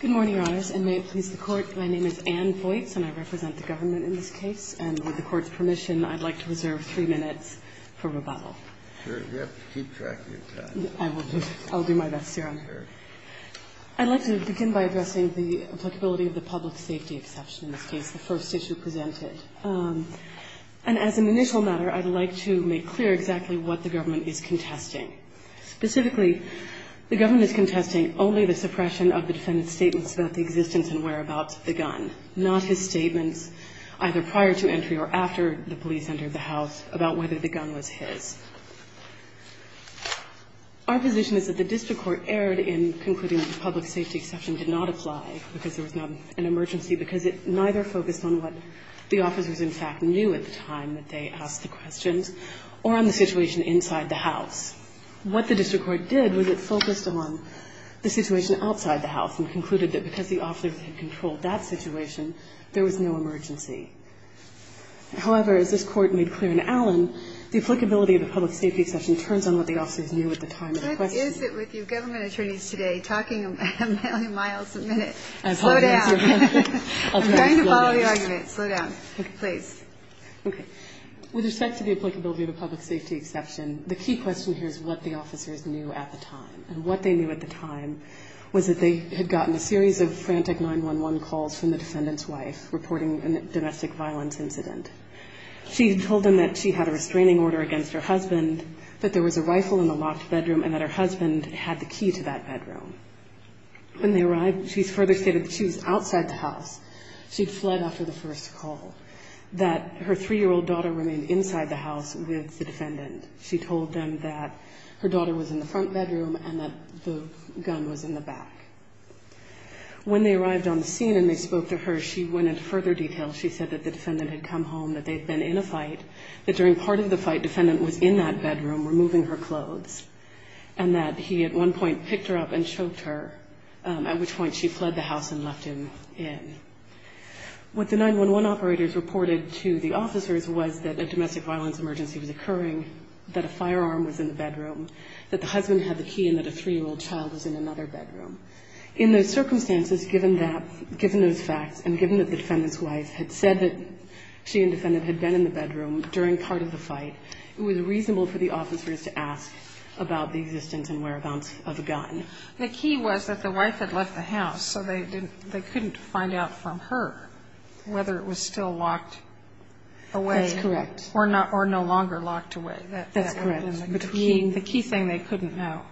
Good morning, Your Honors, and may it please the Court, my name is Anne Voits and I represent the government in this case. And with the Court's permission, I'd like to reserve three minutes for rebuttal. You have to keep track of your time. I will do. I will do my best, Your Honor. Fair. I'd like to begin by addressing the applicability of the public safety exception in this case, the first issue presented. And as an initial matter, I'd like to make clear exactly what the government is contesting. Specifically, the government is contesting only the suppression of the defendant's statements about the existence and whereabouts of the gun, not his statements either prior to entry or after the police entered the house about whether the gun was his. Our position is that the district court erred in concluding that the public safety exception did not apply because there was not an emergency because it neither focused on what the officers, in fact, knew at the time that they asked the questions or on the situation inside the house. What the district court did was it focused on the situation outside the house and concluded that because the officers had controlled that situation, there was no emergency. However, as this Court made clear in Allen, the applicability of the public safety exception turns on what the officers knew at the time of the question. What is it with you government attorneys today talking a million miles a minute? Slow down. I apologize, Your Honor. I'm trying to follow the argument. Slow down, please. Okay. With respect to the applicability of a public safety exception, the key question here is what the officers knew at the time. And what they knew at the time was that they had gotten a series of frantic 911 calls from the defendant's wife reporting a domestic violence incident. She had told them that she had a restraining order against her husband, that there was a rifle in the locked bedroom, and that her husband had the key to that bedroom. When they arrived, she further stated that she was outside the house. She'd fled after the first call, that her three-year-old daughter remained inside the house with the child, and that her daughter was in the front bedroom and that the gun was in the back. When they arrived on the scene and they spoke to her, she went into further detail. She said that the defendant had come home, that they had been in a fight, that during part of the fight, the defendant was in that bedroom removing her clothes, and that he at one point picked her up and choked her, at which point she fled the house and left him in. What the 911 operators reported to the officers was that a domestic violence emergency was occurring, that a firearm was in the bedroom, that the husband had the key, and that a three-year-old child was in another bedroom. In those circumstances, given that, given those facts, and given that the defendant's wife had said that she and the defendant had been in the bedroom during part of the fight, it was reasonable for the officers to ask about the existence and whereabouts of the gun. The key was that the wife had left the house, so they didn't, they couldn't find out from her whether it was still locked away. That's correct. Or not, or no longer locked away. That's correct. The key thing they couldn't know.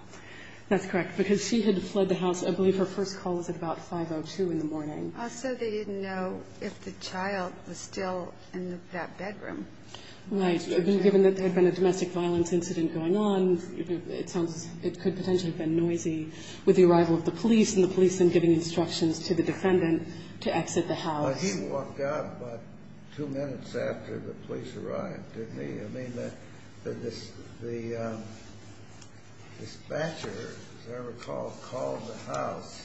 That's correct. Because she had fled the house, I believe her first call was at about 5.02 in the morning. So they didn't know if the child was still in that bedroom. Right. Given that there had been a domestic violence incident going on, it sounds, it could potentially have been noisy with the arrival of the police, and the police then giving instructions to the defendant to exit the house. Well, he walked out about two minutes after the police arrived, didn't he? I mean, the dispatcher, as I recall, called the house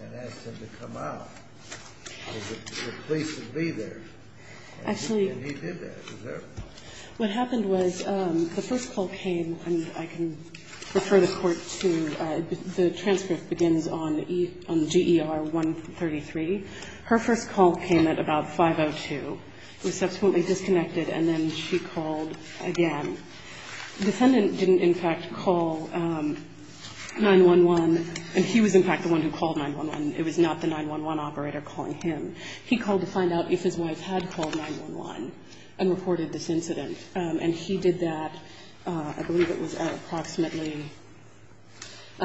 and asked him to come out, because the police would be there. And he did that. What happened was the first call came, and I can refer the Court to the transcript begins on GER 133. Her first call came at about 5.02. It was subsequently disconnected, and then she called again. The defendant didn't, in fact, call 911. And he was, in fact, the one who called 911. It was not the 911 operator calling him. He called to find out if his wife had called 911 and reported this incident. And he did that, I believe it was at approximately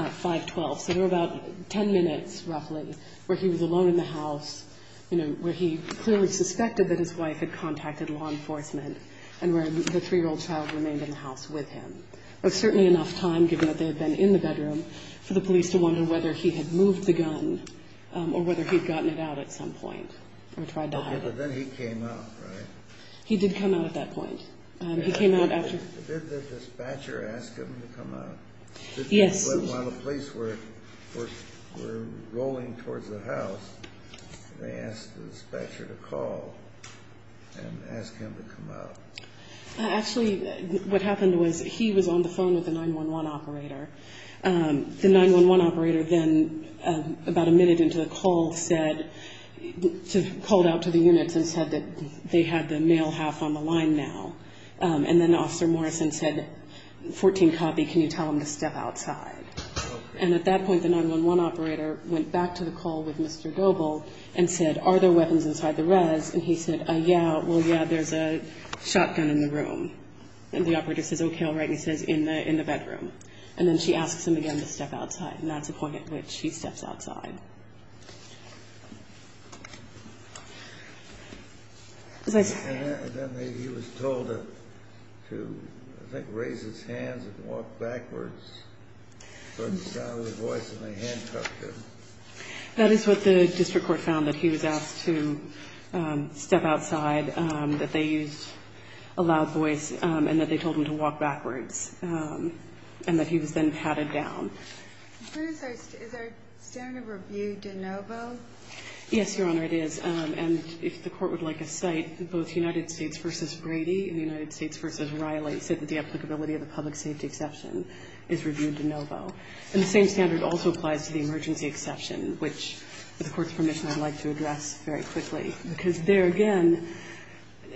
5.12. So there were about ten minutes, roughly, where he was alone in the house, you know, where he clearly suspected that his wife had contacted law enforcement and where the three-year-old child remained in the house with him. It was certainly enough time, given that they had been in the bedroom, for the police to wonder whether he had moved the gun or whether he had gotten it out at some point or tried to hide it. Okay. But then he came out, right? He did come out at that point. He came out after. Did the dispatcher ask him to come out? Yes. While the police were rolling towards the house, they asked the dispatcher to call and ask him to come out. Actually, what happened was he was on the phone with the 911 operator. The 911 operator then, about a minute into the call, called out to the units and said that they had the male half on the line now. And then Officer Morrison said, 14 copy, can you tell him to step outside? Okay. And at that point, the 911 operator went back to the call with Mr. Doble and said, are there weapons inside the res? And he said, yeah, well, yeah, there's a shotgun in the room. And the operator says, okay, all right, and he says, in the bedroom. And then she asks him again to step outside. And that's the point at which he steps outside. And then he was told to, I think, raise his hands and walk backwards, because he sounded a voice, and they handcuffed him. That is what the district court found, that he was asked to step outside, that they used a loud voice, and that they told him to walk backwards, and that he was then patted down. Is there a standard of review de novo? Yes, Your Honor, it is. And if the Court would like a cite, both United States v. Brady and United States v. Riley said that the applicability of the public safety exception is reviewed de novo. And the same standard also applies to the emergency exception, which, with the Court's permission, I'd like to address very quickly. Because there, again,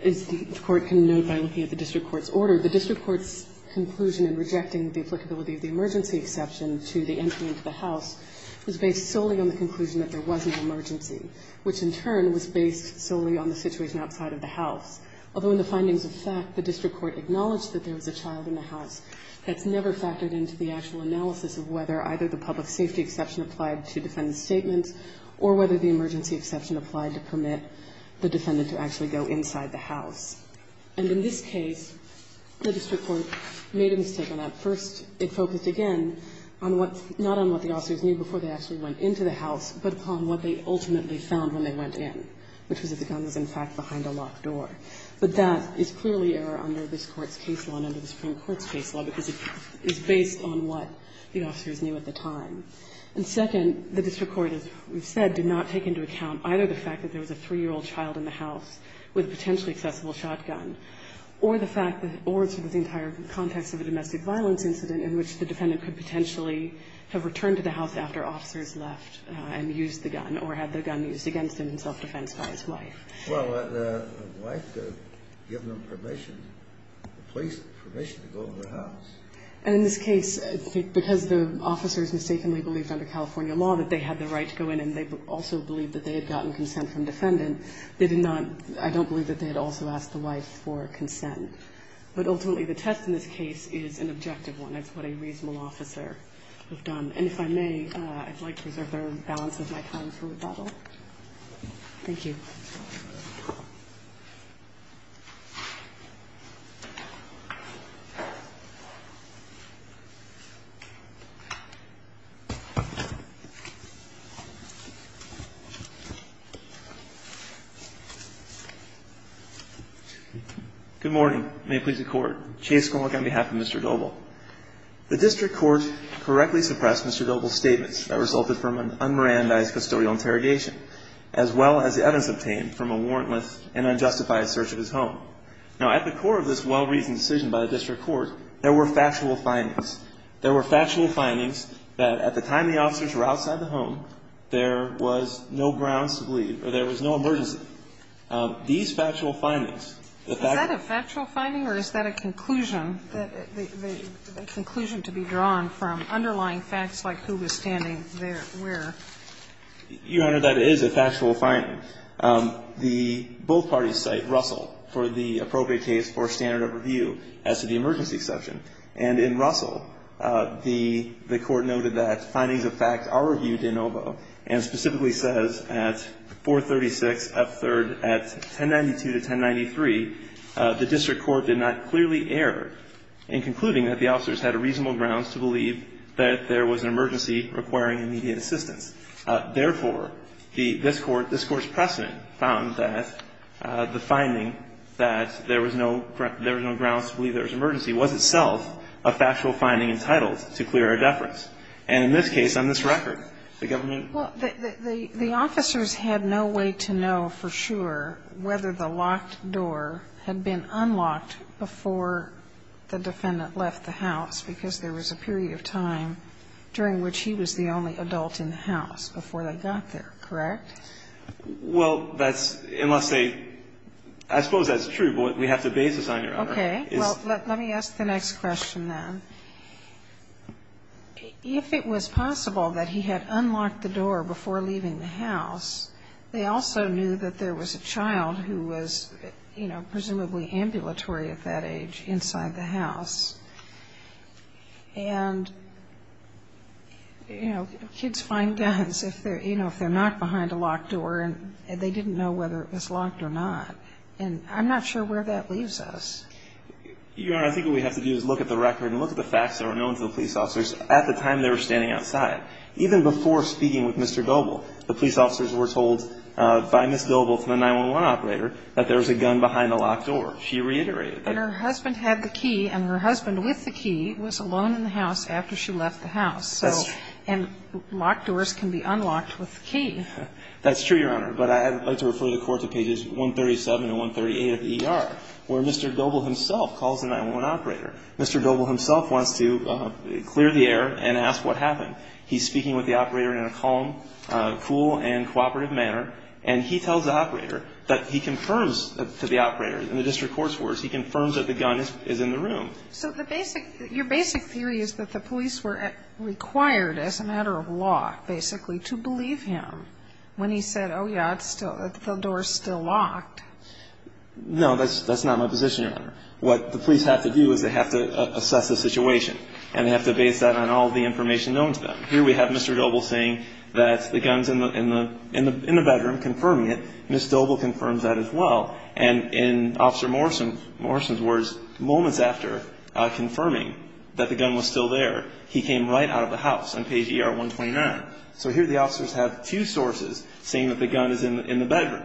as the Court can note by looking at the district court's order, the district court's conclusion in rejecting the applicability of the emergency exception to the entry into the house was based solely on the conclusion that there wasn't an emergency, which, in turn, was based solely on the situation outside of the house. Although in the findings of fact, the district court acknowledged that there was a child in the house, that's never factored into the actual analysis of whether either the public safety exception applied to defendant's statement or whether the emergency exception applied to permit the defendant to actually go inside the house. And in this case, the district court made a mistake on that. First, it focused, again, on what the officers knew before they actually went into the house, but upon what they ultimately found when they went in, which was that the gun was, in fact, behind a locked door. But that is clearly error under this Court's case law and under the Supreme Court's case law, because it is based on what the officers knew at the time. And second, the district court, as we've said, did not take into account either the fact that there was a 3-year-old child in the house with a potentially accessible shotgun or the fact that the entire context of a domestic violence incident in which the defendant could potentially have returned to the house after officers left and used the gun or had the gun used against him in self-defense by his wife. Well, the wife could have given him permission, police permission to go in the house. And in this case, because the officers mistakenly believed under California law that they had the right to go in and they also believed that they had gotten And if I may, I'd like to reserve the balance of my time for rebuttal. Thank you. Good morning. May it please the Court. Chase Gromick on behalf of Mr. Doble. The district court correctly suppressed Mr. Doble's statements that resulted from an unmerandized custodial interrogation, as well as the evidence obtained from a warrantless and unjustified search of his home. Now, at the core of this well-reasoned decision by the district court, there were factual findings. There were factual findings that at the time the officers were outside the home, there was no grounds to believe or there was no emergency. These factual findings. Is that a factual finding or is that a conclusion, a conclusion to be drawn from underlying facts like who was standing there where? Your Honor, that is a factual finding. The both parties cite Russell for the appropriate case for standard of review as to the emergency exception. And in Russell, the Court noted that findings of fact are reviewed in OVO and specifically says at 436, up third at 1092 to 1093, the district court did not clearly err in concluding that the officers had a reasonable grounds to believe that there was an emergency requiring immediate assistance. Therefore, this Court's precedent found that the finding that there was no grounds to believe there was an emergency was itself a factual finding entitled to clear a deference. And in this case, on this record, the government. Well, the officers had no way to know for sure whether the locked door had been unlocked before the defendant left the house, because there was a period of time during which he was the only adult in the house before they got there, correct? Well, that's unless they – I suppose that's true, but we have to base this on your Honor. Okay. Well, let me ask the next question then. If it was possible that he had unlocked the door before leaving the house, they also knew that there was a child who was, you know, presumably ambulatory at that age inside the house. And, you know, kids find guns if they're, you know, if they're not behind a locked door and they didn't know whether it was locked or not. And I'm not sure where that leaves us. Your Honor, I think what we have to do is look at the record and look at the facts that were known to the police officers at the time they were standing outside. Even before speaking with Mr. Goebel, the police officers were told by Ms. Goebel to the 911 operator that there was a gun behind the locked door. She reiterated that. And her husband had the key, and her husband with the key was alone in the house after she left the house. That's true. And locked doors can be unlocked with a key. That's true, Your Honor. But I'd like to refer the Court to pages 137 and 138 of the ER, where Mr. Goebel himself calls the 911 operator. Mr. Goebel himself wants to clear the air and ask what happened. He's speaking with the operator in a calm, cool, and cooperative manner. And he tells the operator that he confirms to the operator, in the district court's words, he confirms that the gun is in the room. So the basic, your basic theory is that the police were required as a matter of law, basically, to believe him when he said, oh, yeah, the door's still locked. No, that's not my position, Your Honor. What the police have to do is they have to assess the situation, and they have to base that on all the information known to them. Here we have Mr. Goebel saying that the gun's in the bedroom, confirming it. Ms. Goebel confirms that as well. And in Officer Morrison's words, moments after confirming that the gun was still there, he came right out of the house on page ER-129. So here the officers have two sources saying that the gun is in the bedroom.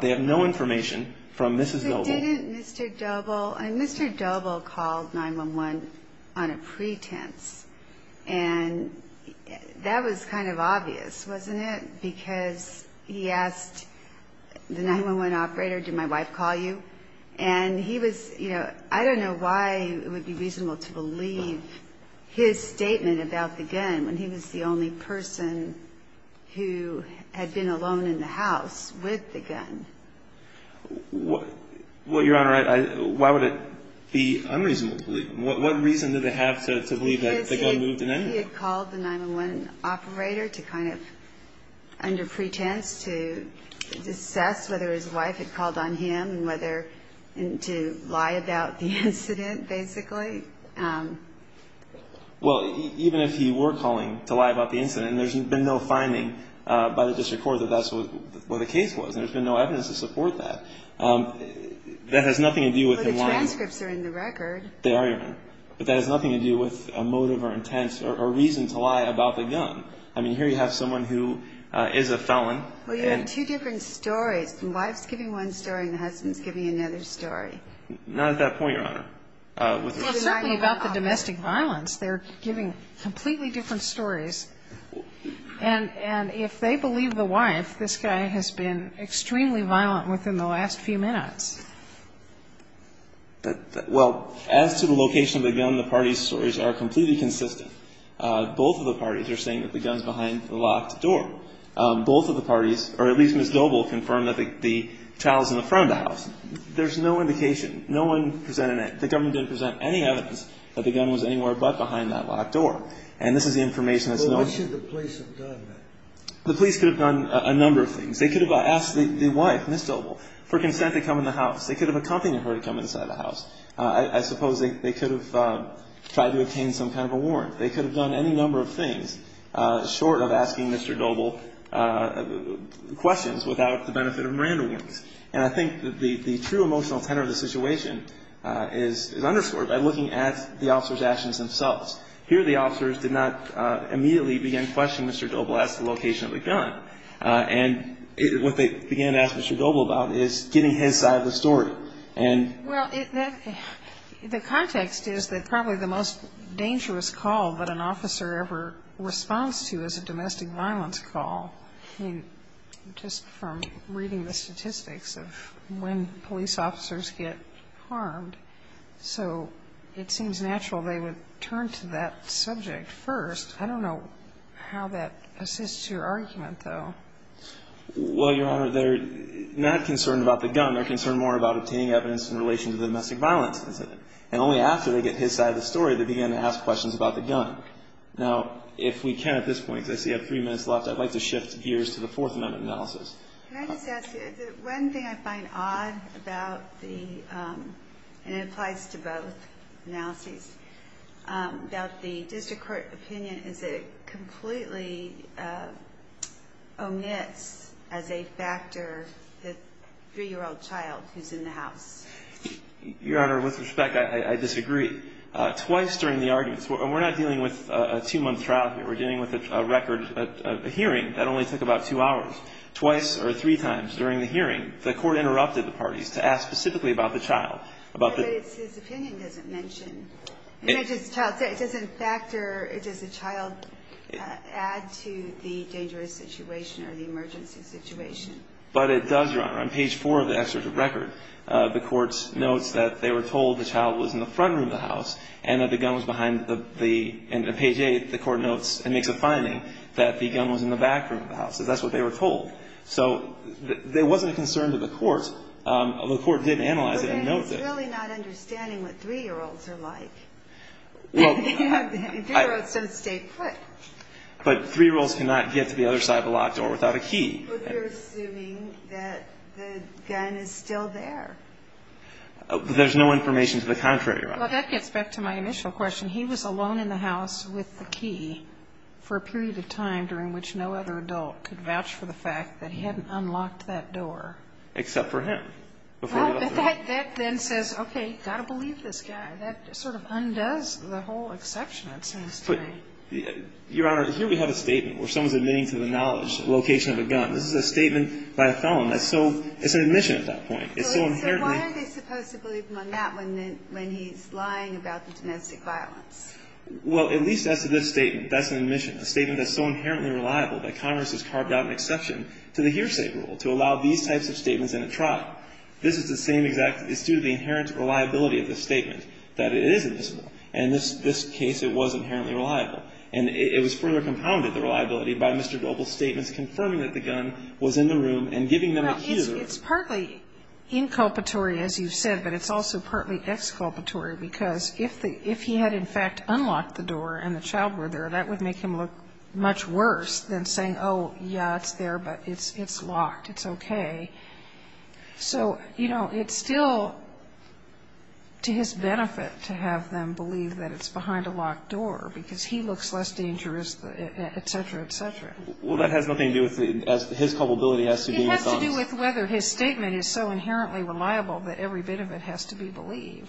They have no information from Mrs. Goebel. But didn't Mr. Goebel, Mr. Goebel called 911 on a pretense. And that was kind of obvious, wasn't it? Because he asked the 911 operator, did my wife call you? And he was, you know, I don't know why it would be reasonable to believe his statement about the gun when he was the only person who had been alone in the house with the gun. Well, Your Honor, why would it be unreasonable to believe him? What reason did they have to believe that the gun moved in anyway? Because he had called the 911 operator to kind of, under pretense, to assess whether his wife had called on him and whether to lie about the incident, basically. Well, even if he were calling to lie about the incident, there's been no finding by the district court that that's what the case was. There's been no evidence to support that. That has nothing to do with him lying. Well, the transcripts are in the record. They are, Your Honor. But that has nothing to do with a motive or intent or reason to lie about the gun. I mean, here you have someone who is a felon. Well, you have two different stories. The wife's giving one story and the husband's giving another story. Not at that point, Your Honor. Well, certainly about the domestic violence, they're giving completely different stories. And if they believe the wife, this guy has been extremely violent within the last few minutes. Well, as to the location of the gun, the parties' stories are completely consistent. Both of the parties are saying that the gun's behind the locked door. Both of the parties, or at least Ms. Doble, confirmed that the child's in the front of the house. There's no indication. No one presented that. The government didn't present any evidence that the gun was anywhere but behind that locked door. And this is the information that's known. Well, what should the police have done then? The police could have done a number of things. They could have asked the wife, Ms. Doble, for consent to come in the house. They could have accompanied her to come inside the house. I suppose they could have tried to obtain some kind of a warrant. They could have done any number of things short of asking Mr. Doble questions without the benefit of a warrant. And I think the true emotional tenor of the situation is underscored by looking at the officers' actions themselves. Here the officers did not immediately begin questioning Mr. Doble as to the location of the gun. And what they began to ask Mr. Doble about is getting his side of the story. Well, the context is that probably the most dangerous call that an officer ever responds to is a domestic violence call. I mean, just from reading the statistics of when police officers get harmed. So it seems natural they would turn to that subject first. I don't know how that assists your argument, though. Well, Your Honor, they're not concerned about the gun. They're concerned more about obtaining evidence in relation to the domestic violence incident. And only after they get his side of the story do they begin to ask questions about the gun. Now, if we can at this point, because I see I have three minutes left, I'd like to shift gears to the Fourth Amendment analysis. Can I just ask you, is it one thing I find odd about the, and it applies to both analyses, about the district court opinion, is it completely omits as a factor the 3-year-old child who's in the house? Your Honor, with respect, I disagree. Twice during the arguments, and we're not dealing with a two-month trial here. We're dealing with a record, a hearing that only took about two hours. Twice or three times during the hearing, the court interrupted the parties to ask specifically about the child. But his opinion doesn't mention. It doesn't factor, does the child add to the dangerous situation or the emergency situation? But it does, Your Honor. On page 4 of the excerpt of the record, the Court notes that they were told the child was in the front room of the house and that the gun was behind the, and on page 8, the Court notes and makes a finding that the gun was in the back room of the house. That's what they were told. So there wasn't a concern to the Court. The Court did analyze it and note that. It's really not understanding what 3-year-olds are like. 3-year-olds don't stay put. But 3-year-olds cannot get to the other side of the locked door without a key. But they're assuming that the gun is still there. There's no information to the contrary, Your Honor. Well, that gets back to my initial question. He was alone in the house with the key for a period of time during which no other adult could vouch for the fact that he hadn't unlocked that door. Except for him. Well, but that then says, okay, you've got to believe this guy. That sort of undoes the whole exception, it seems to me. But, Your Honor, here we have a statement where someone's admitting to the knowledge and location of a gun. This is a statement by a felon. That's so, it's an admission at that point. It's so inherently. So why are they supposed to believe him on that when he's lying about the domestic violence? Well, at least as to this statement, that's an admission, a statement that's so inherently reliable that Congress has carved out an exception to the hearsay rule to allow these types of statements in a trial. This is the same exact, it's due to the inherent reliability of the statement, that it is admissible. And in this case, it was inherently reliable. And it was further compounded, the reliability, by Mr. Global's statements confirming that the gun was in the room and giving them a key to the room. Now, it's partly inculpatory, as you've said, but it's also partly exculpatory, because if he had, in fact, unlocked the door and the child were there, that would make him look much worse than saying, oh, yeah, it's there, but it's locked, it's okay. So, you know, it's still to his benefit to have them believe that it's behind a locked door, because he looks less dangerous, et cetera, et cetera. Well, that has nothing to do with the, his culpability has to do with guns. It has to do with whether his statement is so inherently reliable that every bit of it has to be believed.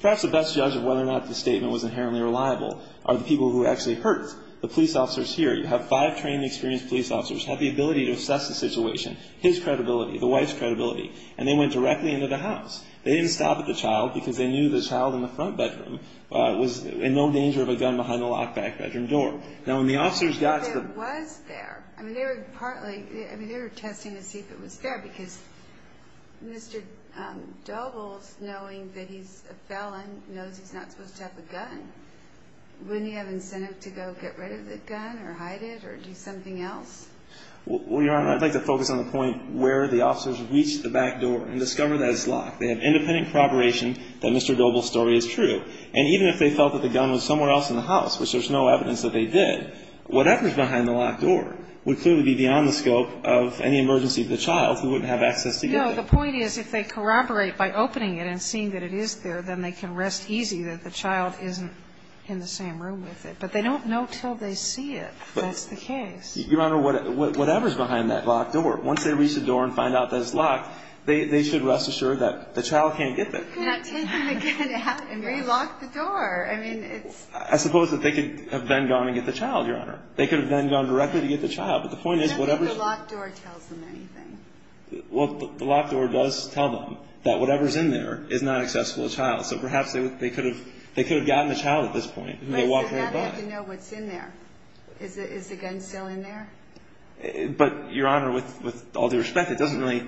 Perhaps the best judge of whether or not the statement was inherently reliable are the people who actually heard. The police officers here, you have five trained, experienced police officers, have the ability to assess the situation, his credibility, the wife's credibility, and they went directly into the house. They didn't stop at the child, because they knew the child in the front bedroom was in no danger of a gun behind the locked back bedroom door. Now, when the officers got to the... I mean, they were partly, I mean, they were testing to see if it was there, because Mr. Doble's knowing that he's a felon knows he's not supposed to have a gun. Wouldn't he have incentive to go get rid of the gun or hide it or do something else? Well, Your Honor, I'd like to focus on the point where the officers reached the back door and discovered that it's locked. They have independent corroboration that Mr. Doble's story is true. And even if they felt that the gun was somewhere else in the house, which there's no evidence that they did, whatever's behind the locked door would clearly be beyond the scope of any emergency to the child who wouldn't have access to get there. No. The point is if they corroborate by opening it and seeing that it is there, then they can rest easy that the child isn't in the same room with it. But they don't know until they see it. That's the case. Your Honor, whatever's behind that locked door, once they reach the door and find out that it's locked, they should rest assured that the child can't get there. Not taking the gun out and relocking the door. I mean, it's... I suppose that they could have then gone and get the child, Your Honor. They could have then gone directly to get the child. But the point is, whatever's... I don't think the locked door tells them anything. Well, the locked door does tell them that whatever's in there is not accessible to the child. So perhaps they could have gotten the child at this point if they walked right by. But somehow they have to know what's in there. Is the gun still in there? But, Your Honor, with all due respect, it doesn't really...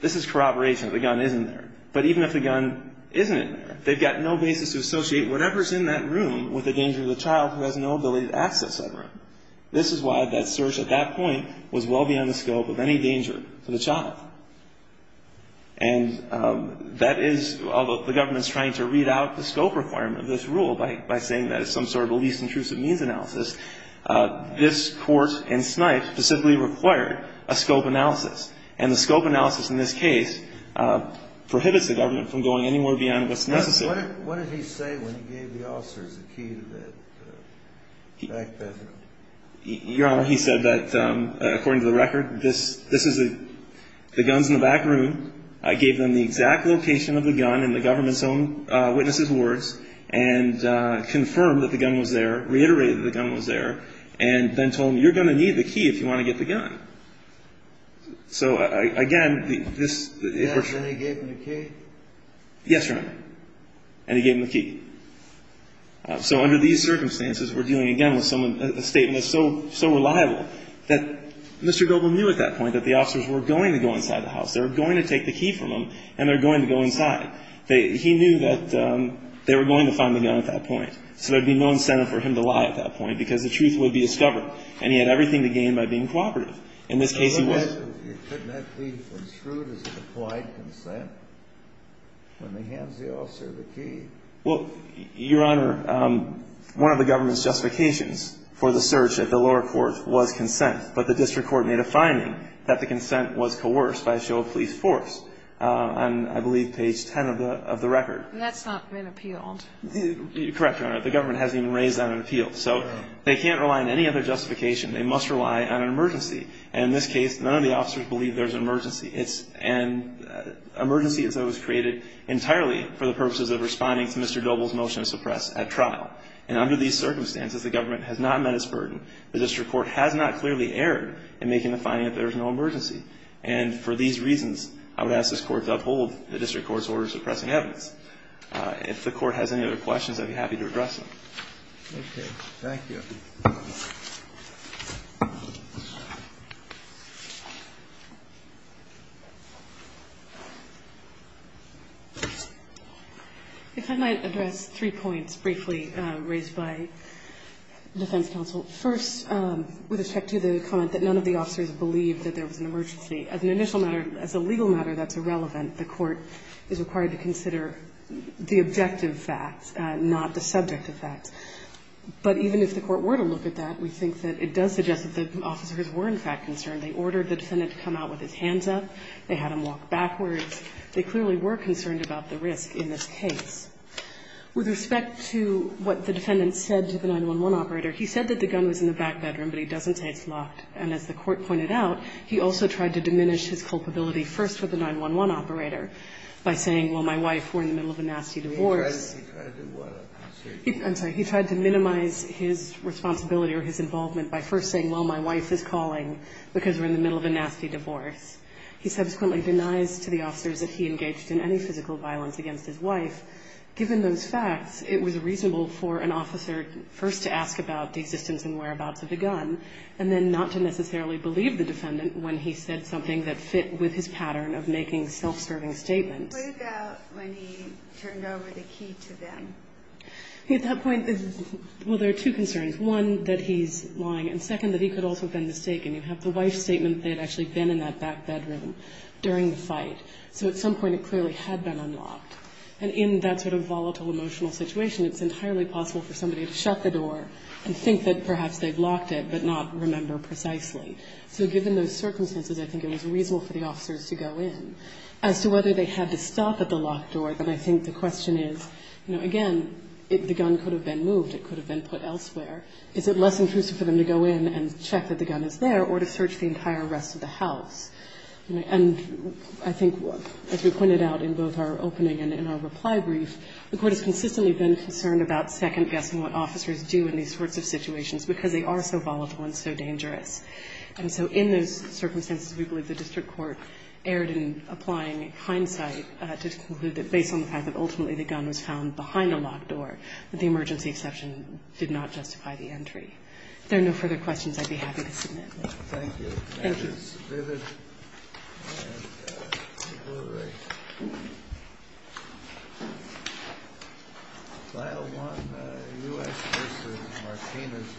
This is corroboration. The gun isn't there. But even if the gun isn't in there, they've got no basis to associate whatever's in that room with the danger to the child who has no ability to access that room. This is why that search at that point was well beyond the scope of any danger to the child. And that is... Although the government's trying to read out the scope requirement of this rule by saying that it's some sort of a least intrusive means analysis, this court in Snipes specifically required a scope analysis. And the scope analysis in this case prohibits the government from going anywhere beyond what's necessary. What did he say when he gave the officers the key to that back bedroom? Your Honor, he said that, according to the record, this is a... The gun's in the back room. I gave them the exact location of the gun in the government's own witness's words and confirmed that the gun was there, reiterated that the gun was there, and then told them, you're going to need the key if you want to get the gun. So, again, this... Yes, and he gave them the key? Yes, Your Honor. And he gave them the key. So under these circumstances, we're dealing again with someone... A statement that's so reliable that Mr. Goble knew at that point that the officers were going to go inside the house. They were going to take the key from him, and they were going to go inside. He knew that they were going to find the gun at that point. So there would be no incentive for him to lie at that point because the truth would be discovered, and he had everything to gain by being cooperative. In this case, he was... Couldn't that be construed as an applied consent when he hands the officer the key? Well, Your Honor, one of the government's justifications for the search at the lower court was consent, but the district court made a finding that the consent was coerced by a show of police force, on, I believe, page 10 of the record. That's not been appealed. Correct, Your Honor. The government hasn't even raised that on appeal. So they can't rely on any other justification. They must rely on an emergency. And in this case, none of the officers believe there's an emergency. It's an emergency that was created entirely for the purposes of responding to Mr. Goble's motion to suppress at trial. And under these circumstances, the government has not met its burden. The district court has not clearly erred in making the finding that there is no emergency. And for these reasons, I would ask this Court to uphold the district court's order suppressing evidence. If the Court has any other questions, I'd be happy to address them. Okay. Thank you. If I might address three points briefly raised by defense counsel. First, with respect to the comment that none of the officers believed that there was an emergency. As an initial matter, as a legal matter, that's irrelevant. The Court is required to consider the objective facts, not the subject effects. But even if the Court were to look at that, we think that it does suggest that the officers were in fact concerned. They ordered the defendant to come out with his hands up. They had him walk backwards. They clearly were concerned about the risk in this case. With respect to what the defendant said to the 911 operator, he said that the gun was in the back bedroom, but he doesn't say it's locked. And as the Court pointed out, he also tried to diminish his culpability first with the 911 operator by saying, well, my wife, we're in the middle of a nasty divorce. I'm sorry. He tried to minimize his responsibility or his involvement by first saying, well, my wife is calling because we're in the middle of a nasty divorce. He subsequently denies to the officers that he engaged in any physical violence against his wife. Given those facts, it was reasonable for an officer first to ask about the existence and whereabouts of the gun, and then not to necessarily believe the defendant when he said something that fit with his pattern of making self-serving statements. What about when he turned over the key to them? At that point, well, there are two concerns. One, that he's lying, and second, that he could also have been mistaken. You have the wife's statement that they had actually been in that back bedroom during the fight. So at some point it clearly had been unlocked. And in that sort of volatile emotional situation, it's entirely possible for somebody to shut the door and think that perhaps they'd locked it but not remember precisely. So given those circumstances, I think it was reasonable for the officers to go in. As to whether they had to stop at the locked door, then I think the question is, you know, again, the gun could have been moved. It could have been put elsewhere. Is it less intrusive for them to go in and check that the gun is there or to search the entire rest of the house? And I think, as we pointed out in both our opening and in our reply brief, the Court has consistently been concerned about second-guessing what officers do in these sorts of situations because they are so volatile and so dangerous. And so in those circumstances, we believe the district court erred in applying hindsight to conclude that based on the fact that ultimately the gun was found behind a locked door, that the emergency exception did not justify the entry. If there are no further questions, I'd be happy to submit them. Thank you. That is vivid and deliberate. File 1, U.S. v. Martinez.